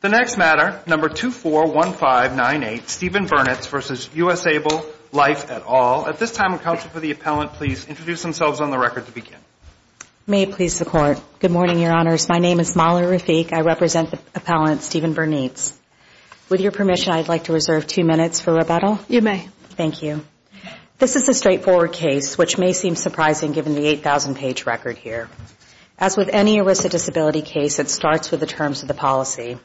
The next matter, number 241598, Stephen Bernitz versus USAble Life et al. At this time, will counsel for the appellant please introduce themselves on the record to begin. May it please the court. Good morning, your honors. My name is Molly Rafik. I represent the appellant, Stephen Bernitz. With your permission, I'd like to reserve two minutes for rebuttal. You may. Thank you. This is a straightforward case, which may seem surprising given the 8,000 page record here. As with any implicit disability case, it starts with the terms of the policy,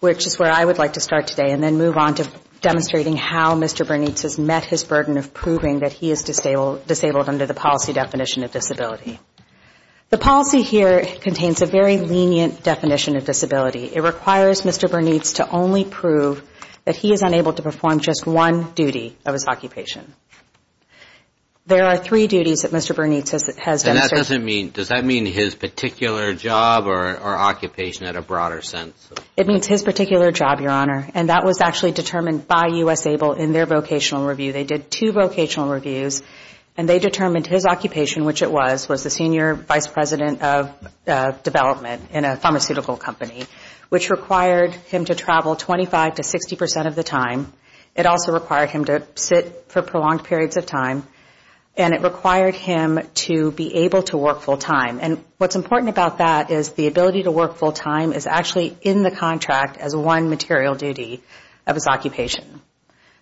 which is where I would like to start today and then move on to demonstrating how Mr. Bernitz has met his burden of proving that he is disabled under the policy definition of disability. The policy here contains a very lenient definition of disability. It requires Mr. Bernitz to only prove that he is unable to perform just one duty of his occupation. There are three duties that Mr. Bernitz has demonstrated. And that doesn't mean, does that mean his particular job or occupation in a broader sense? It means his particular job, your honor. And that was actually determined by USAble in their vocational review. They did two vocational reviews. And they determined his occupation, which it was, was the senior vice president of development in a pharmaceutical company, which required him to travel 25 to 60 percent of the time. It also required him to sit for prolonged periods of time. And it required him to be able to work full time. And what's important about that is that the ability to work full time is actually in the contract as one material duty of his occupation.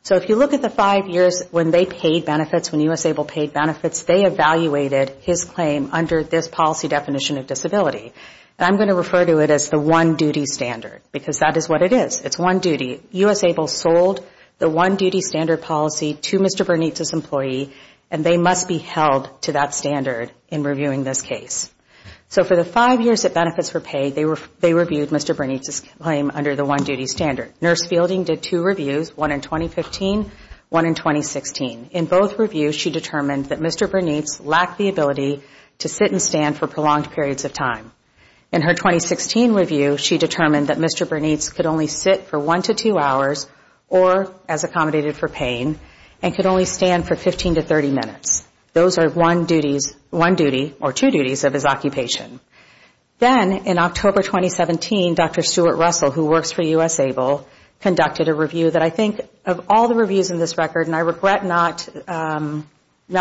So if you look at the five years when they paid benefits, when USAble paid benefits, they evaluated his claim under this policy definition of disability. And I'm going to refer to it as the one-duty standard, because that is what it is. It's one duty. USAble sold the one-duty standard policy to Mr. Bernitz's employee, and they must be held to that standard in reviewing this case. So for the five years of his benefits were paid, they reviewed Mr. Bernitz's claim under the one-duty standard. Nurse Fielding did two reviews, one in 2015, one in 2016. In both reviews, she determined that Mr. Bernitz lacked the ability to sit and stand for prolonged periods of time. In her 2016 review, she determined that Mr. Bernitz could only sit for one to two hours or, as accommodated for paying, and could only stand for 15 to 30 minutes. Those are one duty, or two duties of his occupation. In her 2016 review, she determined that Mr. Bernitz could only sit for one to two hours. Then in October 2017, Dr. Stuart Russell, who works for USAble, conducted a review that I think, of all the reviews in this record, and I regret not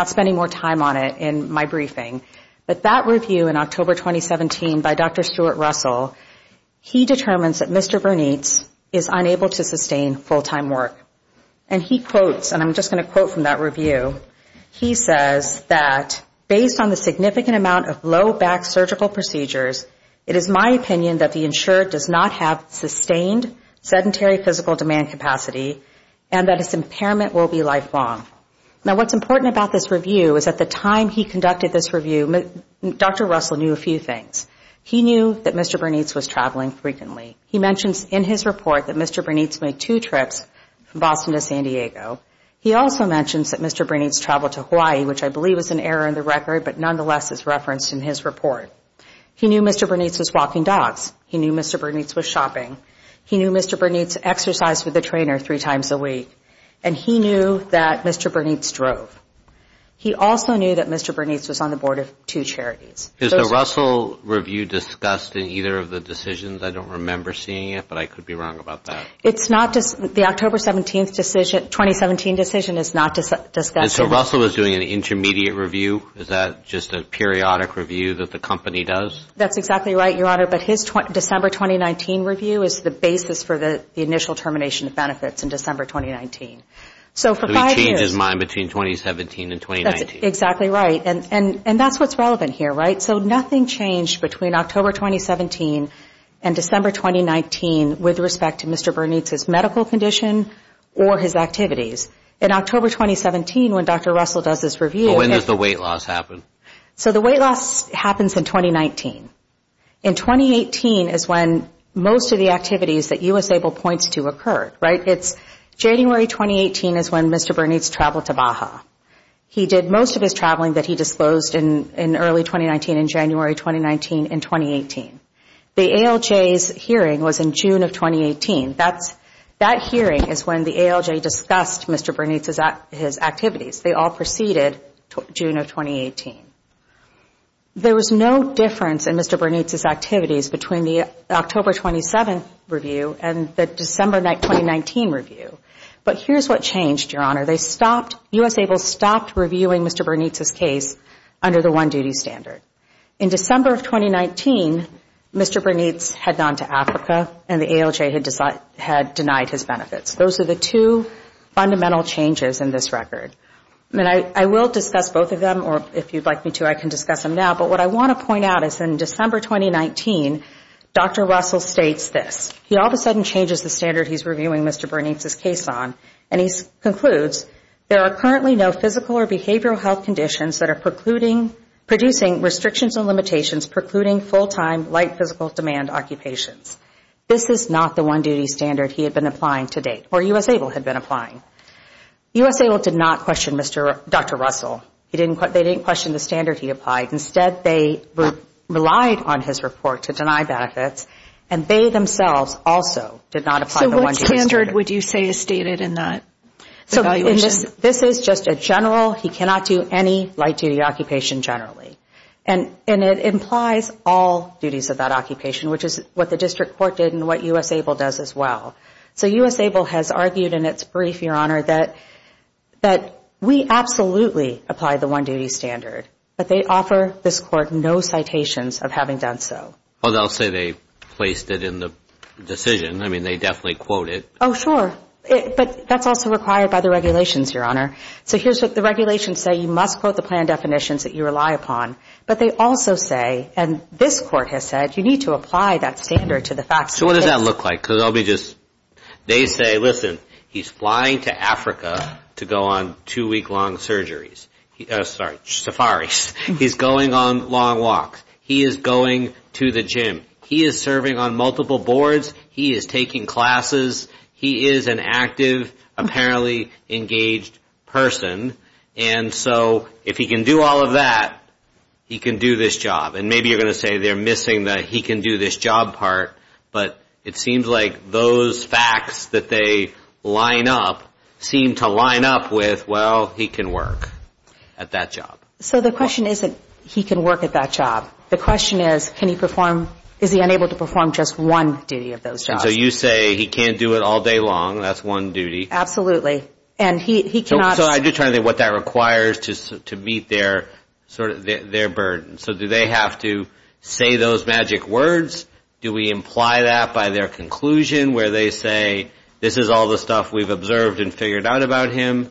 spending more time on it in my briefing, but that review in October 2017 by Dr. Stuart Russell, he determines that Mr. Bernitz is unable to sustain full-time work. And he quotes, and I'm just going to quote from that review, he says that based on the significant amount of low back surgical procedures, he is unable to sustain full-time work. It is my opinion that the insured does not have sustained sedentary physical demand capacity and that his impairment will be lifelong. Now, what's important about this review is at the time he conducted this review, Dr. Russell knew a few things. He knew that Mr. Bernitz was traveling frequently. He mentions in his report that Mr. Bernitz made two trips from Boston to San Diego. He also mentions that Mr. Bernitz traveled to Hawaii, which I believe is an error in the record, but nonetheless is referenced in his report. He knew that Mr. Bernitz was walking dogs. He knew Mr. Bernitz was shopping. He knew Mr. Bernitz exercised with a trainer three times a week. And he knew that Mr. Bernitz drove. He also knew that Mr. Bernitz was on the board of two charities. Is the Russell review discussed in either of the decisions? I don't remember seeing it, but I could be wrong about that. It's not, the October 17th decision, 2017 decision is not discussed. And so Russell is doing an intermediate review? Is that just a periodic review that the company does? That's exactly right, Your Honor. But his December 2019 review is the basis for the initial termination of benefits in December 2019. So he changed his mind between 2017 and 2019? That's exactly right. And that's what's relevant here, right? So nothing changed between October 2017 and December 2019 with respect to Mr. Bernitz. So when does the weight loss happen? So the weight loss happens in 2019. In 2018 is when most of the activities that you were able to point to occurred, right? It's January 2018 is when Mr. Bernitz traveled to Baja. He did most of his traveling that he disclosed in early 2019 in January 2019 in 2018. The ALJ's hearing was in June of 2018. That hearing is when the ALJ discussed Mr. Bernitz's activities. They all proceeded June of 2018. There was no difference in Mr. Bernitz's activities between the October 27th review and the December 2019 review. But here's what changed, Your Honor. They stopped, U.S. ABLE stopped reviewing Mr. Bernitz's case under the one-duty standard. In December of 2019, Mr. Bernitz had gone to Africa and the ALJ had denied his benefits. Those are the two fundamental changes in this record. And I will discuss both of them, or if you'd like me to, I can discuss them now. But what I want to point out is in December 2019, Dr. Russell states this. He all of a sudden changes the standard he's reviewing Mr. Bernitz's case on, and he concludes, there are currently no physical or behavioral health conditions that are precluding, producing restrictions and limitations precluding full-time, light physical demand occupations. This is not the one-duty standard he had been applying to date, or U.S. ABLE had been applying. U.S. ABLE did not question Dr. Russell. They didn't question the standard he applied. Instead, they relied on his report to deny benefits, and they themselves also did not apply the one-duty standard. What standard would you say is stated in that evaluation? This is just a general, he cannot do any light duty occupation generally. And it implies all duties of that occupation, which is what the district court did and what U.S. ABLE does as well. So U.S. ABLE has argued in its brief, Your Honor, that we absolutely apply the one-duty standard, but they offer this court no citations of having done so. Well, they'll say they placed it in the decision. I mean, they definitely quote it. Oh, sure. But that's also required by the regulations, Your Honor. So here's what the regulations say. You must quote the plan definitions that you rely upon. But they also say, and this court has said, you need to apply that standard to the facts. So what does that look like? Because I'll be just they say, listen, he's flying to Africa to go on two-week-long surgeries. Sorry, safaris. He's going on long walks. He is going to the gym. He is serving on multiple boards. He is taking classes. He is an active, apparently engaged person. And so if he can do all of that, he can do this job. And maybe you're going to say they're missing the he can do this job part, but it seems like those facts that they line up seem to line up with, well, he can work at that job. So the question isn't he can work at that job. The question is, can he perform, is he unable to perform just one duty of those jobs? So you say he can't do it all day long. That's one duty. Absolutely. And he cannot. So I'm just trying to think what that requires to meet their sort of their burden. So do they have to say those magic words? Do we imply that by their conclusion where they say this is all the stuff we've observed and figured out about him?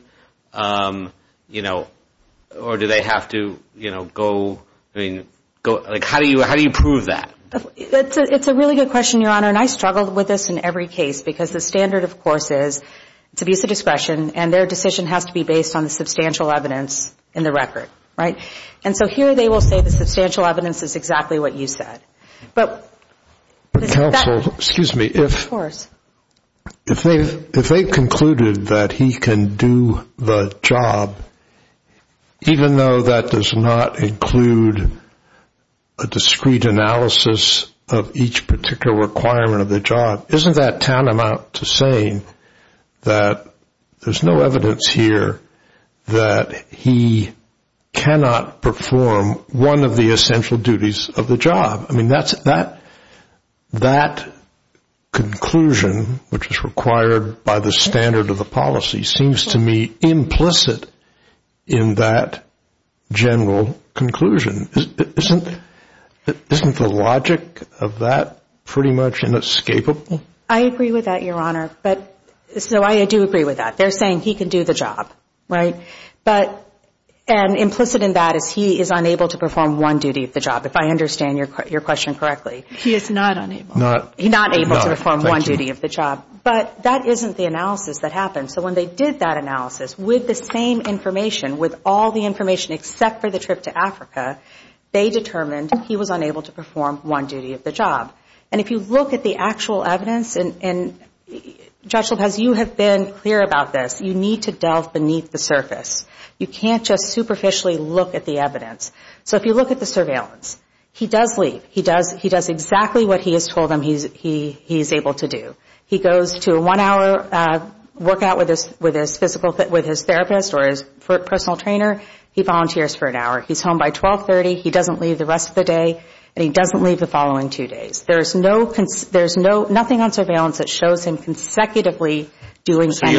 You know, or do they have to, you know, go, I mean, go. Like, how do you how do you prove that? It's a really good question, Your Honor, and I struggled with this in every case because the standard, of course, is it's abuse of discretion and their decision has to be based on the substantial evidence in the record. Right. And so here they will say the substantial evidence is exactly what you said. But excuse me, if they've concluded that he can do the job, even though that does not include a discrete analysis of each particular requirement of the job, isn't that tantamount to saying that there's no evidence here that he cannot perform one of the essential duties of the job? That conclusion, which is required by the standard of the policy, seems to me implicit in that general conclusion. Isn't the logic of that pretty much inescapable? I agree with that, Your Honor. So I do agree with that. They're saying he can do the job, right? And implicit in that is he is unable to perform one duty of the job, if I understand your question correctly. He is not unable. He's not able to perform one duty of the job. But that isn't the analysis that happened. So when they did that analysis with the same information, with all the information except for the trip to Africa, they determined he was unable to perform one duty of the job. And if you look at the actual evidence, and Judge Lopez, you have been clear about this, you need to delve beneath the surface. You can't just superficially look at the evidence. So if you look at the surveillance, he does leave. He does exactly what he has told them he's able to do. He goes to a one-hour workout with his therapist or his personal trainer. He volunteers for an hour. He's home by 1230. He doesn't leave the rest of the day. And he doesn't leave the following two days. There's nothing on surveillance that shows him consecutively doing anything.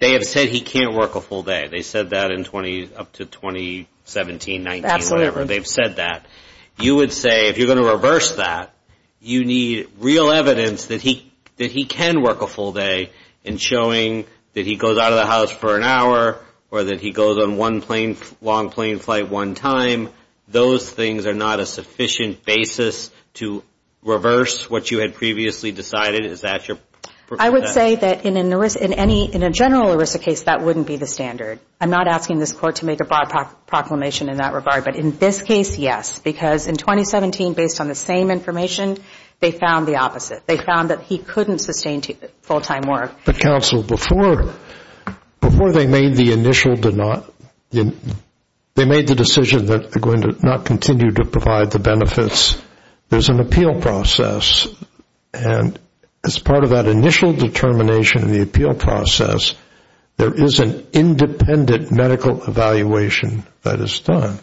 They have said he can't work a full day. They said that up to 2017, 19, whatever. They've said that. You would say, if you're going to reverse that, you need real evidence that he can work a full day in showing that he goes out of the house for an hour or that he goes on one long plane flight one time. Those things are not a sufficient basis to reverse what you had previously decided. I would say that in a general ERISA case, that wouldn't be the standard. I'm not asking this court to make a broad proclamation in that regard. But in this case, yes. Because in 2017, based on the same information, they found the opposite. They found that he couldn't sustain full-time work. But counsel, before they made the initial, they made the decision that they're going to not continue to provide the benefits, there's an appeal process. And as part of that initial determination in the appeal process, there is an independent medical evaluation that is done.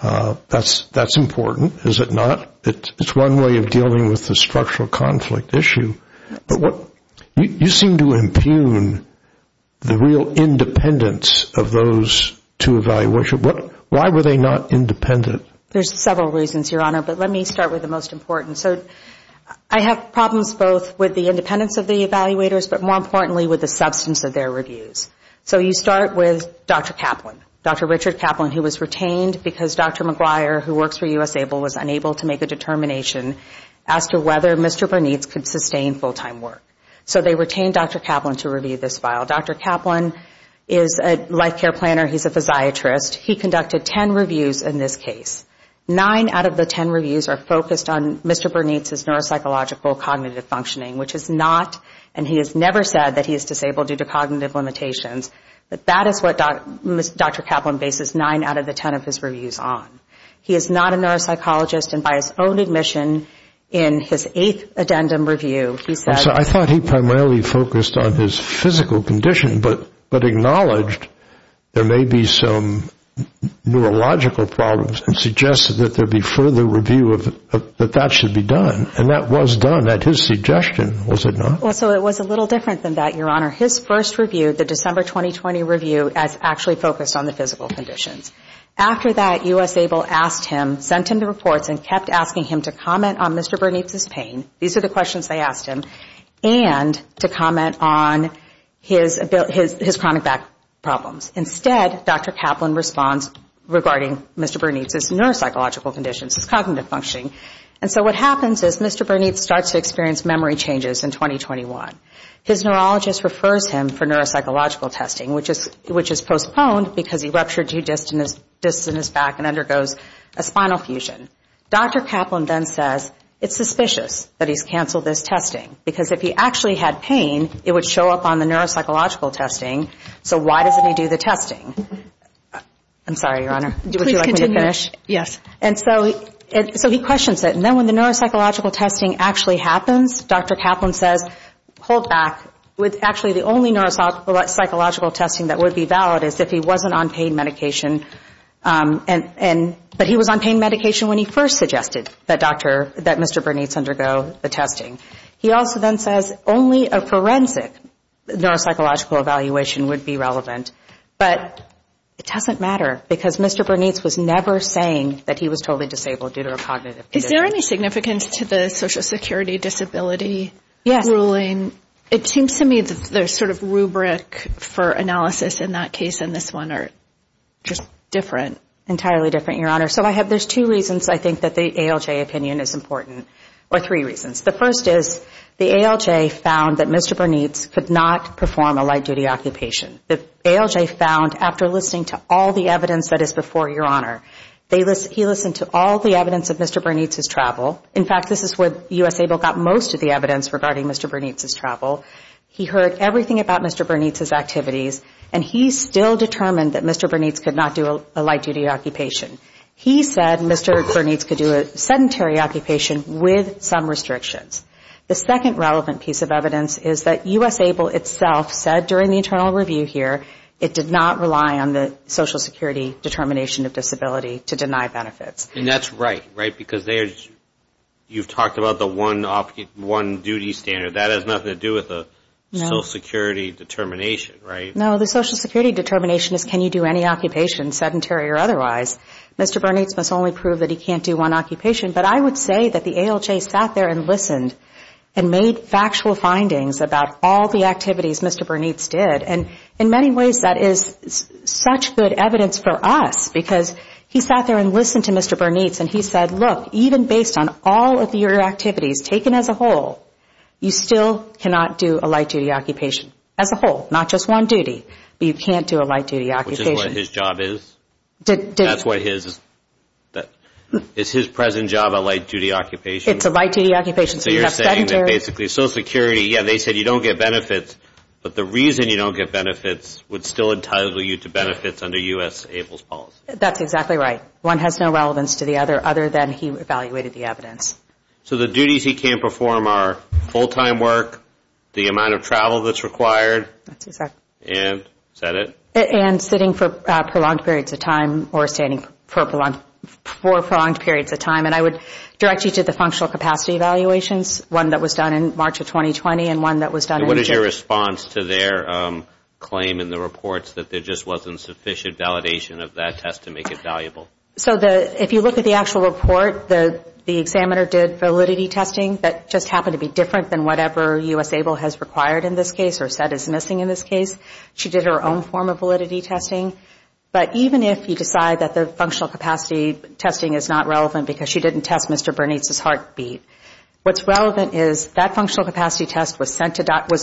That's important, is it not? It's one way of dealing with the structural conflict issue. You seem to impugn the real independence of those to evaluation. Why were they not independent? There's several reasons, Your Honor. But let me start with the most important. I have problems both with the independence of the evaluators, but more importantly with the substance of their reviews. So you start with Dr. Kaplan, Dr. Richard Kaplan, who was retained because Dr. McGuire, who works for U.S. ABLE, was unable to make a determination as to whether Mr. Bernietz could sustain full-time work. So they retained Dr. Kaplan to review this file. Dr. Kaplan is a life care planner, he's a physiatrist. He conducted ten reviews in this case. Nine out of the ten reviews are focused on Mr. Bernietz's neuropsychological cognitive functioning, which is not, and he has never said that he is disabled due to cognitive limitations. But that is what Dr. Kaplan bases nine out of the ten of his reviews on. He is not a I thought he primarily focused on his physical condition, but acknowledged there may be some neurological problems and suggested that there be further review of that should be done. And that was done at his suggestion, was it not? Well, so it was a little different than that, Your Honor. His first review, the December 2020 review, actually focused on the physical conditions. After that, U.S. ABLE asked him, sent him the reports, and kept asking him to comment on Mr. Bernietz's pain. These are the questions they asked him. And to comment on his chronic back problems. Instead, Dr. Kaplan responds regarding Mr. Bernietz's neuropsychological conditions, his cognitive functioning. And so what happens is Mr. Bernietz starts to experience memory changes in 2021. His neurologist refers him for neuropsychological testing, which is postponed because he ruptured two discs in his back and undergoes a spinal fusion. Dr. Kaplan then says it's suspicious that he's canceled this testing, because if he actually had pain, it would show up on the neuropsychological testing, so why doesn't he do the testing? I'm sorry, Your Honor. Would you like me to finish? Yes. And so he questions it. And then when the neuropsychological testing actually happens, Dr. Kaplan says, hold back. Actually, the only neuropsychological testing that would be valid is if he wasn't on pain medication. But he was on pain medication when he first suggested that Mr. Bernietz undergo the testing. He also then says only a forensic neuropsychological evaluation would be relevant. But it doesn't matter, because Mr. Bernietz was never saying that he was totally disabled due to a cognitive condition. Is there any significance to the Social Security disability ruling? It seems to me the sort of rubric for analysis in that case and this one are just different. Entirely different, Your Honor. So there's two reasons I think that the ALJ opinion is important, or three reasons. The first is the ALJ found that Mr. Bernietz could not perform a light-duty occupation. The ALJ found after listening to all the evidence that is before you, Your Honor, he listened to all the evidence of Mr. Bernietz's travel. In fact, this is where U.S. ABLE got most of the evidence regarding Mr. Bernietz's travel. He heard everything about Mr. Bernietz's activities, and he still determined that Mr. Bernietz could not do a light-duty occupation. He said Mr. Bernietz could do a sedentary occupation with some restrictions. The second relevant piece of evidence is that U.S. ABLE itself said during the internal review here, it did not rely on the Social Security determination of disability to deny benefits. And that's right, right, because you've talked about the one-duty standard. That has nothing to do with the Social Security determination, right? No, the Social Security determination is can you do any occupation, sedentary or otherwise. Mr. Bernietz must only prove that he can't do one occupation. But I would say that the ALJ sat there and listened and made factual findings about all the activities Mr. Bernietz did. And in many ways, that is such good evidence for us because he sat there and listened to Mr. Bernietz, and he said, look, even based on all of your activities taken as a whole, you still cannot do a light-duty occupation as a whole, not just one duty. You can't do a light-duty occupation. Is his present job a light-duty occupation? It's a light-duty occupation. So you're saying that basically Social Security, yeah, they said you don't get benefits, but the reason you don't get benefits would still entitle you to benefits under U.S. ABLE's policy. That's exactly right. One has no relevance to the other other than he evaluated the evidence. So the duties he can't perform are full-time work, the amount of travel that's required. And sitting for prolonged periods of time or standing for prolonged periods of time. And I would direct you to the functional capacity evaluations, one that was done in March of 2020 and one that was done in June. Any response to their claim in the reports that there just wasn't sufficient validation of that test to make it valuable? So if you look at the actual report, the examiner did validity testing. That just happened to be different than whatever U.S. ABLE has required in this case or said is missing in this case. She did her own form of validity testing. But even if you decide that the functional capacity testing is not relevant because she didn't test Mr. Bernietz's heartbeat, what's relevant is that functional capacity test was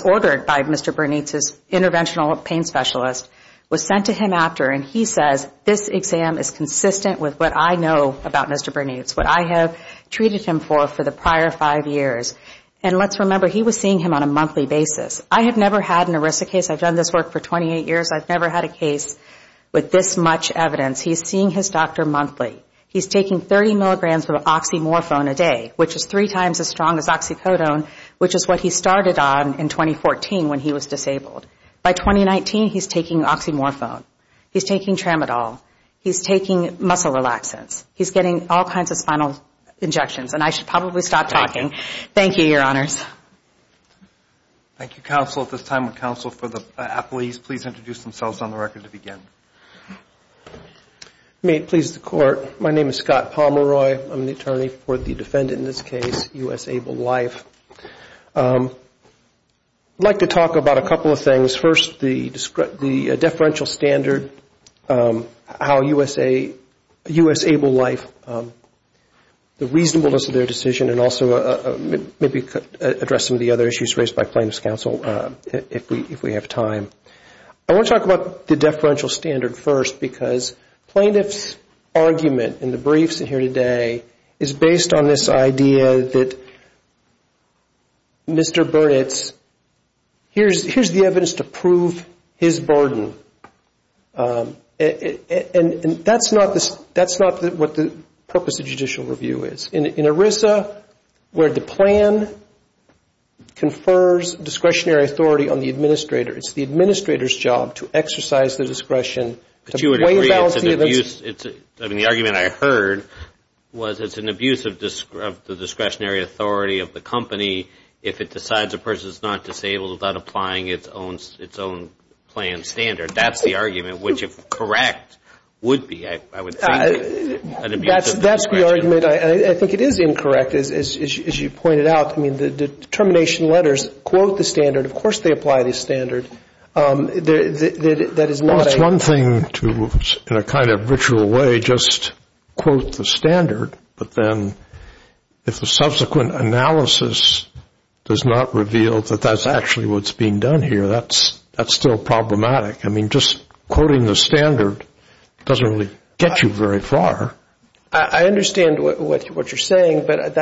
ordered by Mr. Bernietz's interventional pain specialist, was sent to him after. And he says this exam is consistent with what I know about Mr. Bernietz, what I have treated him for for the prior five years. And let's remember he was seeing him on a monthly basis. I have never had an ERISA case, I've done this work for 28 years, I've never had a case with this much evidence. He's seeing his doctor monthly. He's taking 30 milligrams of oxymorphone a day, which is three times as strong as oxycodone, which is what he started on in 2014 when he was disabled. By 2019, he's taking oxymorphone. He's taking tramadol. He's taking muscle relaxants. He's getting all kinds of spinal injections, and I should probably stop talking. Thank you, Your Honors. Thank you, counsel. At this time, would counsel for the appellees please introduce themselves on the record to begin. May it please the Court, my name is Scott Pomeroy, I'm the attorney for the defendant in this case, U.S. Able Life. I'd like to talk about a couple of things. First, the deferential standard, how U.S. Able Life, the reasonableness of their decision, and also maybe address some of the other issues raised by plaintiff's counsel if we have time. I want to talk about the deferential standard first because plaintiff's argument in the briefs in here today is based on this idea that Mr. Bernitz, here's the evidence to prove his burden, and that's not what the purpose of judicial review is. In ERISA, where the plan confers discretionary authority on the administrator, it's the administrator's job to exercise the discretion. I mean, the argument I heard was it's an abuse of the discretionary authority of the company that decides a person is not disabled without applying its own plan standard. That's the argument which, if correct, would be, I would say, an abuse of the discretionary authority. That's the argument, and I think it is incorrect, as you pointed out. I mean, the determination letters quote the standard, of course they apply the standard. That is not a... I'm trying to, in a kind of ritual way, just quote the standard, but then if the subsequent analysis does not reveal that that's actually what's being done here, that's still problematic. I mean, just quoting the standard doesn't really get you very far. I understand what you're saying, but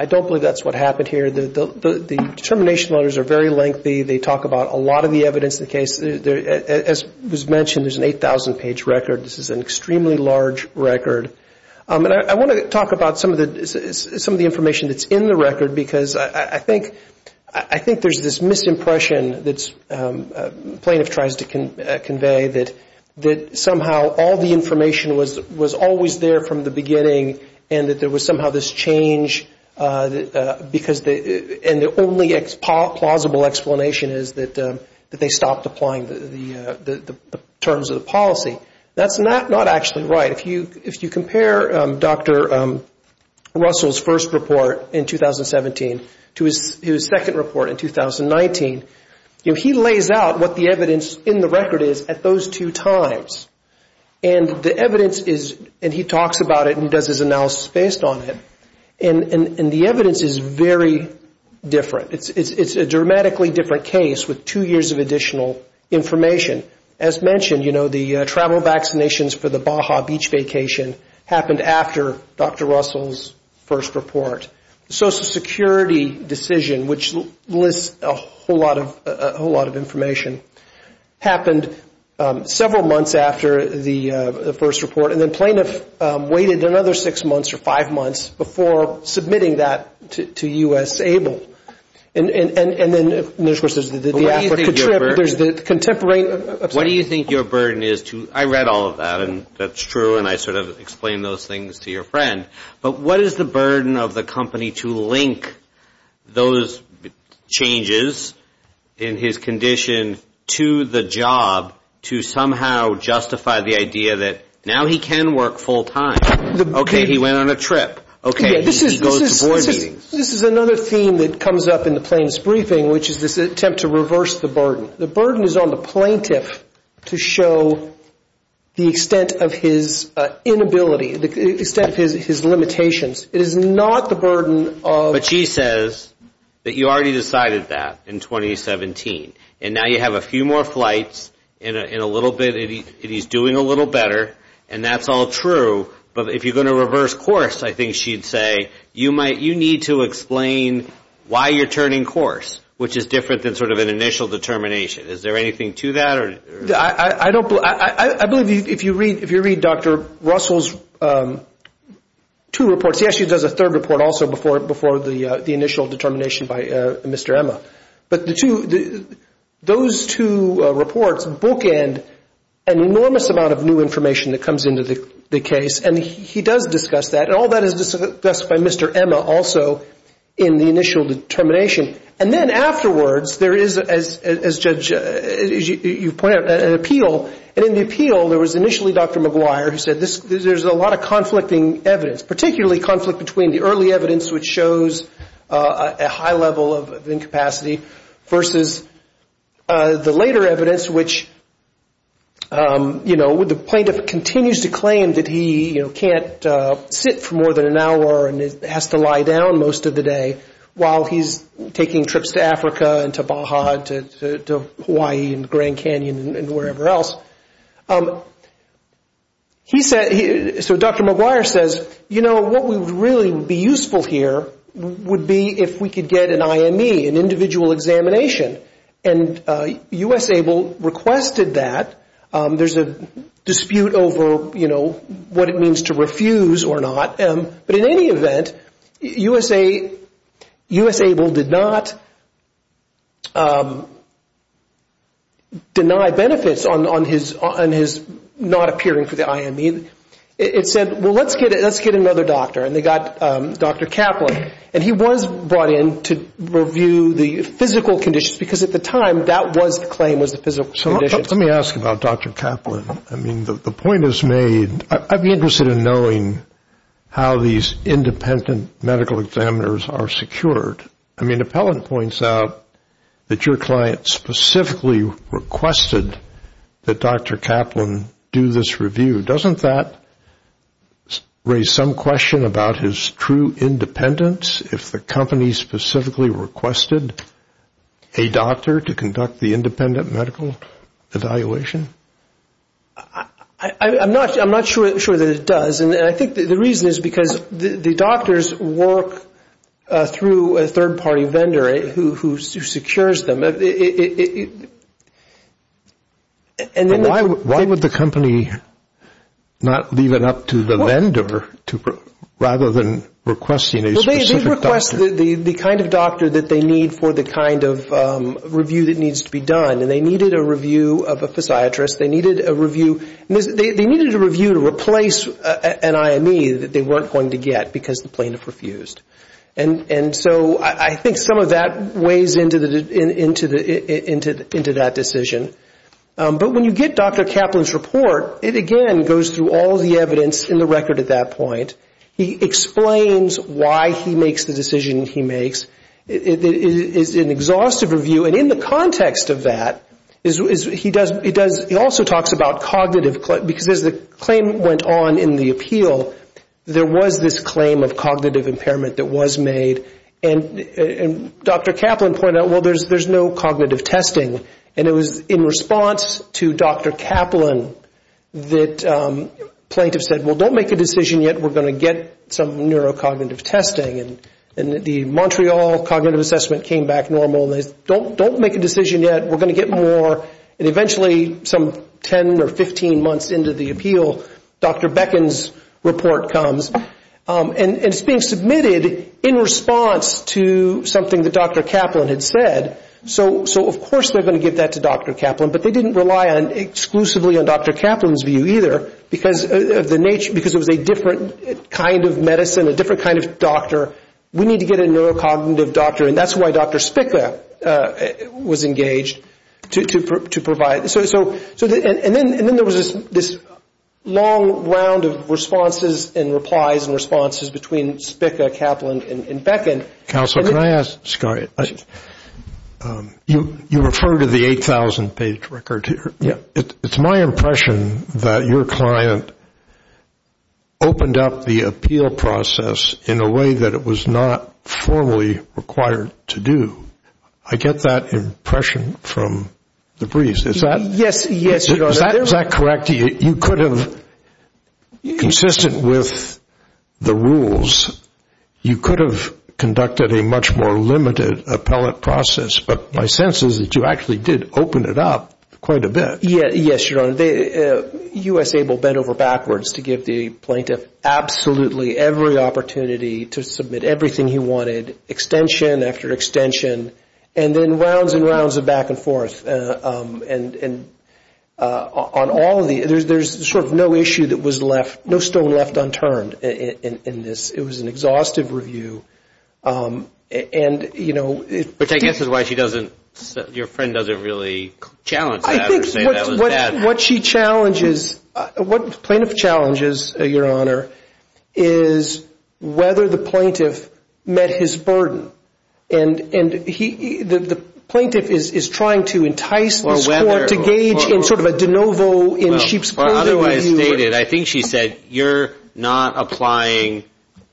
I don't believe that's what happened here. The determination letters are very lengthy. They talk about a lot of the evidence in the case. As was mentioned, there's an 8,000-page record. This is an extremely large record. And I want to talk about some of the information that's in the record, because I think there's this misimpression that plaintiff tries to convey that somehow all the information was always there from the beginning, and that there was somehow this change, and the only plausible explanation is that they stopped applying the terms of the policy. That's not actually right. If you compare Dr. Russell's first report in 2017 to his second report in 2019, he lays out what the evidence in the record is at those two times. And the evidence is, and he talks about it and does his analysis based on it, and the evidence is very different. It's a dramatically different case with two years of additional information. As mentioned, the travel vaccinations for the Baja beach vacation happened after Dr. Russell's first report. The Social Security decision, which lists a whole lot of information, happened several months after the first report, and then plaintiff waited another six months or five months before submitting that to U.S. ABLE. And then, of course, there's the African trip, there's the contemporary upset. What do you think your burden is to, I read all of that, and that's true, and I sort of explained those things to your friend, but what is the burden of the company to link those changes in his condition to the job to somehow justify the idea that now he can work full time? Okay, he went on a trip. Okay, he goes to board meetings. This is another theme that comes up in the plaintiff's briefing, which is this attempt to reverse the burden. The burden is on the plaintiff to show the extent of his inability, the extent of his limitations. It is not the burden of... But she says that you already decided that in 2017, and now you have a few more flights and he's doing a little better, and that's all true, but if you're going to reverse course, I think she'd say, you need to explain why you're turning course, which is different than sort of an initial determination. Is there anything to that? I believe if you read Dr. Russell's two reports, he actually does a third report also before the initial determination by Mr. Emma. But those two reports bookend an enormous amount of new information that comes into the case, and he does discuss that, and all that is discussed by Mr. Emma also in the initial determination. And then afterwards, there is, as you point out, an appeal, and in the appeal there was initially Dr. McGuire who said there's a lot of conflicting evidence, particularly conflict between the early evidence which shows a high level of incapacity versus the later evidence which, you know, the plaintiff continues to claim that he can't sit for more than an hour and has to lie down most of the day while he's taking trips to Africa and to Baja and to Hawaii and Grand Canyon and wherever else. He said, so Dr. McGuire says, you know, what would really be useful here would be if we could get an IME, an individual examination, and U.S. ABLE requested that. There's a dispute over, you know, what it means to refuse or not, but in any event, U.S. ABLE did not deny benefits on his not appearing for the IME. It said, well, let's get another doctor, and they got Dr. Kaplan, and he was brought in to review the physical conditions, because at the time, that was the claim, was the physical conditions. Let me ask about Dr. Kaplan. I mean, the point is made, I'd be interested in knowing how these independent medical examiners are secured. I mean, Appellant points out that your client specifically requested that Dr. Kaplan do this review. Doesn't that raise some question about his true independence, if the company specifically requested a doctor to conduct the independent medical evaluation? I'm not sure that it does. And I think the reason is because the doctors work through a third-party vendor who secures them. Why would the company not leave it up to the vendor rather than requesting a specific doctor? Well, they lost the kind of doctor that they need for the kind of review that needs to be done, and they needed a review of a physiatrist. They needed a review to replace an IME that they weren't going to get because the plaintiff refused. And so I think some of that weighs into that decision. But when you get Dr. Kaplan's report, it again goes through all the evidence in the record at that point. He explains why he makes the decision he makes. It is an exhaustive review. And in the context of that, he also talks about cognitive, because as the claim went on in the appeal, there was this claim of cognitive impairment that was made. And Dr. Kaplan pointed out, well, there's no cognitive testing. And it was in response to Dr. Kaplan that plaintiffs said, well, don't make a decision yet. We're going to get some neurocognitive testing. And the Montreal Cognitive Assessment came back normal. They said, don't make a decision yet. We're going to get more. And eventually, some 10 or 15 months into the appeal, Dr. Beckin's report comes. And it's being submitted in response to something that Dr. Kaplan had said. So of course they're going to give that to Dr. Kaplan. But they didn't rely exclusively on Dr. Kaplan's view either, because it was a different kind of medicine, a different kind of doctor. We need to get a neurocognitive doctor. And that's why Dr. Spicka was engaged to provide. And then there was this long round of responses and replies and responses between Spicka, Kaplan, and Beckin. Counsel, can I ask, you refer to the 8,000-page record here. It's my impression that your client opened up the appeal process in a way that it was not formally required to do. I get that impression from the briefs. Is that correct to you? You could have, consistent with the rules, you could have conducted a much more limited appellate process. But my sense is that you actually did open it up quite a bit. Yes, Your Honor. U.S. ABLE bent over backwards to give the plaintiff absolutely every opportunity to submit everything he wanted, extension after extension, and then rounds and rounds of back and forth. There's sort of no issue that was left, no stone left unturned in this. It was an exhaustive review. Which I guess is why your friend doesn't really challenge that. I think what she challenges, what the plaintiff challenges, Your Honor, is whether the plaintiff met his burden. And the plaintiff is trying to entice this court to gauge in sort of a de novo in sheep's clothing. Well, otherwise stated, I think she said, you're not applying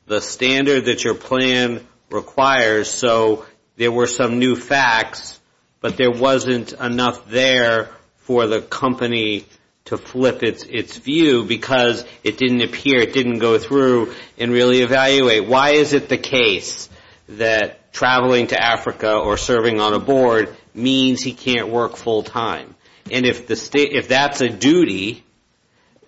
the standard that you're playing with. That's what the plan requires. So there were some new facts, but there wasn't enough there for the company to flip its view because it didn't appear, it didn't go through and really evaluate. Why is it the case that traveling to Africa or serving on a board means he can't work full-time? And if that's a duty,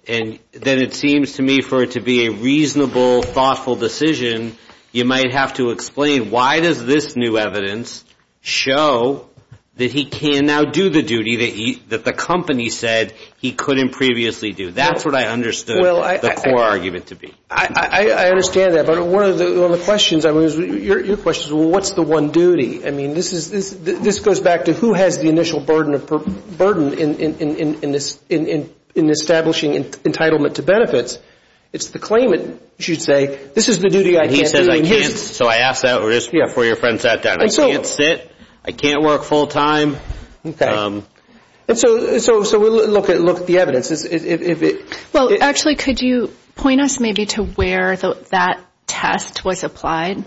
then it seems to me for it to be a reasonable, thoughtful decision, I have to explain why does this new evidence show that he can now do the duty that the company said he couldn't previously do? That's what I understood the core argument to be. I understand that, but one of the questions, your question is, well, what's the one duty? I mean, this goes back to who has the initial burden in establishing entitlement to benefits. It's the claimant, you should say, this is the duty I can't do. So I asked that before your friend sat down. I can't sit, I can't work full-time. Actually, could you point us maybe to where that test was applied?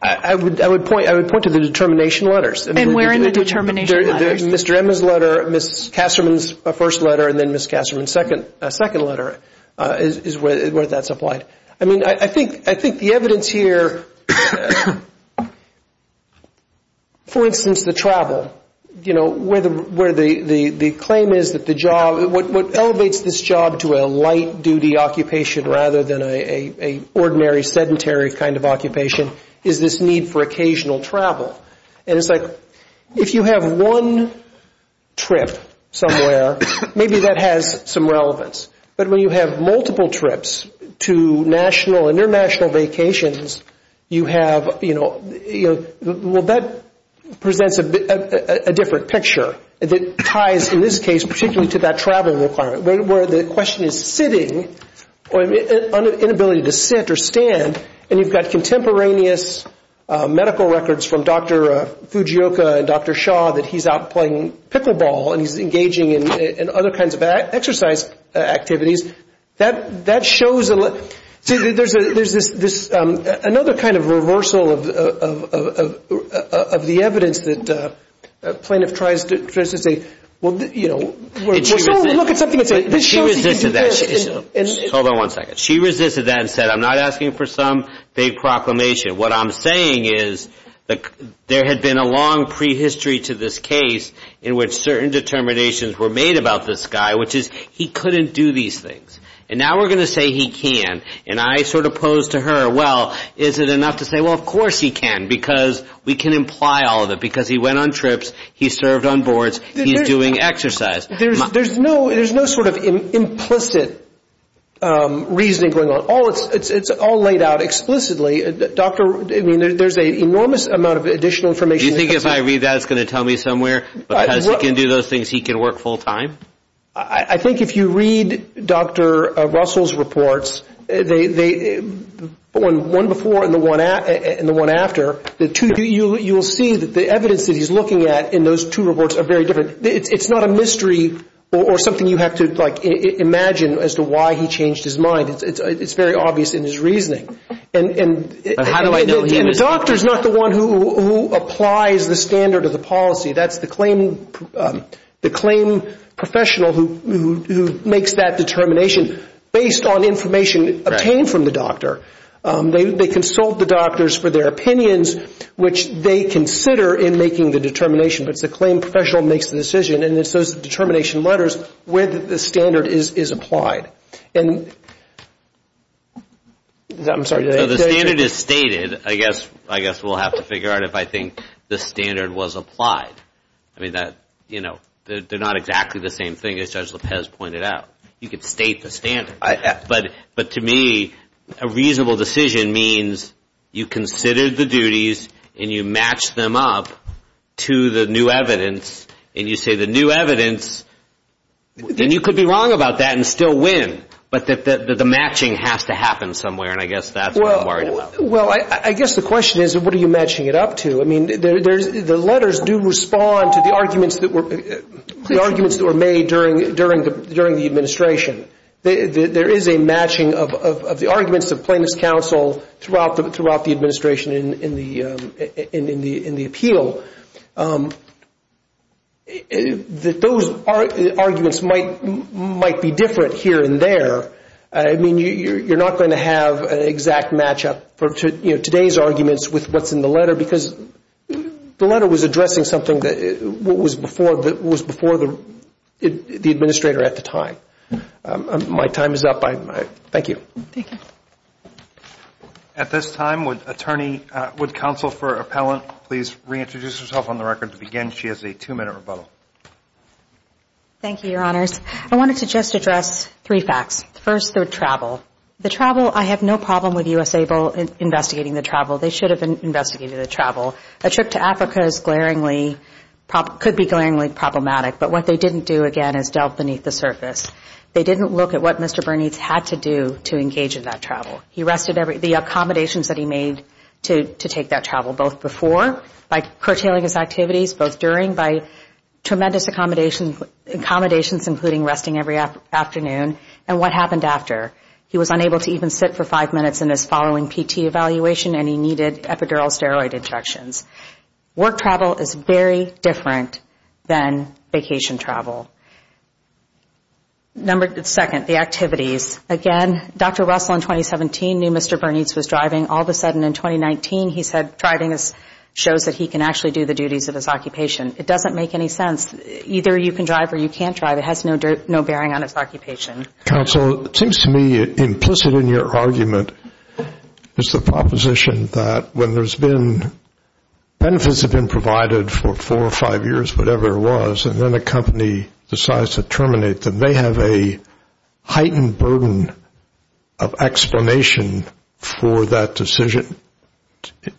I would point to the determination letters. And where in the determination letters? Mr. Emma's letter, Ms. Kasterman's first letter, and then Ms. Kasterman's second letter is where that's applied. I mean, I think the evidence here, for instance, the travel, where the claim is that the job, what elevates this job to a light-duty occupation rather than an ordinary sedentary kind of occupation is this need for occasional travel. And it's like if you have one trip somewhere, maybe that has some relevance. But when you have multiple trips to national and international vacations, you have, you know, well, that presents a different picture. It ties, in this case, particularly to that travel requirement where the question is sitting or inability to sit or stand, and you've got contemporaneous medical records from Dr. Fujioka and Dr. Shaw that he's out playing pickleball and he's engaging in other kinds of exercise activities. That shows, there's this, another kind of reversal of the evidence that a plaintiff tries to say, well, you know, we'll look at something else. She resisted that. Hold on one second. She resisted that and said, I'm not asking for some big proclamation. What I'm saying is there had been a long prehistory to this case in which certain determinations were made about this guy, which is he couldn't do these things. And now we're going to say he can. And I sort of pose to her, well, is it enough to say, well, of course he can, because we can imply all of it, because he went on trips, he served on boards, he's doing exercise. There's no sort of implicit reasoning going on. It's all laid out explicitly. There's an enormous amount of additional information. Do you think if I read that, it's going to tell me somewhere, because he can do those things, he can work full time? I think if you read Dr. Russell's reports, the one before and the one after, you'll see that the evidence that he's looking at in those two reports are very different. It's not a mystery or something you have to imagine as to why he changed his mind. It's very obvious in his reasoning. And the doctor's not the one who applies the standard of the policy. That's the claim professional who makes that determination based on information obtained from the doctor. They consult the doctors for their opinions, which they consider in making the determination. But it's the claim professional who makes the decision, and it's those determination letters where the standard is applied. The standard is stated. I guess we'll have to figure out if I think the standard was applied. They're not exactly the same thing as Judge Lopez pointed out. You could state the standard. But to me, a reasonable decision means you considered the duties and you matched them up to the new evidence, and you say the new evidence, then you could be wrong about that and still win. But the matching has to happen somewhere, and I guess that's what I'm worried about. Well, I guess the question is, what are you matching it up to? I mean, the letters do respond to the arguments that were made during the administration. There is a matching of the arguments of plaintiff's counsel throughout the administration in the appeal. Those arguments might be different here and there. I mean, you're not going to have an exact matchup for today's arguments with what's in the letter, because the letter was addressing something that was before the administrator at the time. My time is up. Thank you. At this time, would counsel for appellant please reintroduce herself on the record to begin? She has a two-minute rebuttal. Thank you, Your Honors. I wanted to just address three facts. First, the travel. The travel, I have no problem with U.S. ABLE investigating the travel. They should have investigated the travel. A trip to Africa could be glaringly problematic, but what they didn't do, again, is delve beneath the surface. They didn't look at what Mr. Bernice had to do to engage in that travel. He rested the accommodations that he made to take that travel, both before, by curtailing his activities, both during, by tremendous accommodations, including resting every afternoon, and what happened after. He was unable to even sit for five minutes in his following PT evaluation, and he needed epidural steroid injections. Work travel is very different than vacation travel. Second, the activities. Again, Dr. Russell in 2017 knew Mr. Bernice was driving. All of a sudden, in 2019, he said driving shows that he can actually do the duties of his occupation. It doesn't make any sense. Either you can drive or you can't drive. It has no bearing on its occupation. Counsel, it seems to me implicit in your argument is the proposition that when benefits have been provided for four or five years, whatever it was, and then a company decides to terminate, that they have a heightened burden of explanation for that decision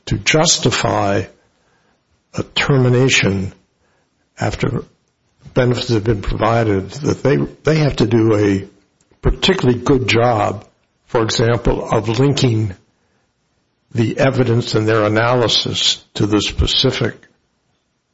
to justify a termination after benefits have been provided. They have to do a particularly good job, for example, of linking the evidence and their analysis to the specific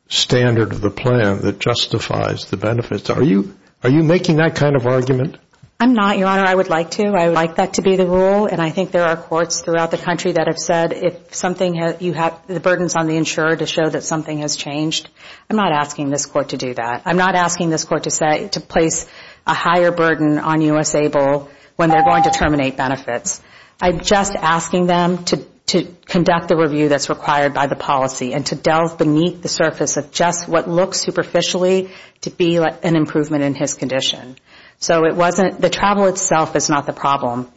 standard of the plan that justifies the benefits. Are you making that kind of argument? I'm not, Your Honor. I would like to. I would like that to be the rule, and I think there are courts throughout the country that have said, if the burden is on the insurer to show that something has changed, I'm not asking this court to do that. I'm not asking this court to place a higher burden on U.S. ABLE when they're going to terminate benefits. I'm just asking them to conduct the review that's required by the policy and to delve beneath the surface of just what looks superficially to be an improvement in his condition. So it wasn't the travel itself is not the problem,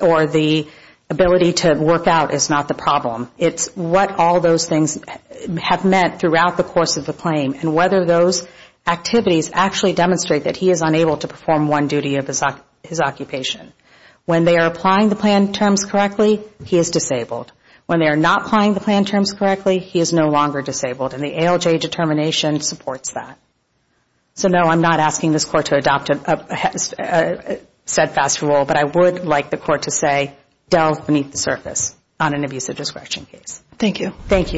or the ability to work out is not the problem. It's what all those things have meant throughout the course of the claim and whether those activities actually demonstrate that he is unable to perform one duty of his occupation. When they are applying the plan terms correctly, he is disabled. When they are not applying the plan terms correctly, he is no longer disabled, and the ALJ determination supports that. So I don't think that's a set fast rule, but I would like the court to say delve beneath the surface on an abusive discretion case. Thank you.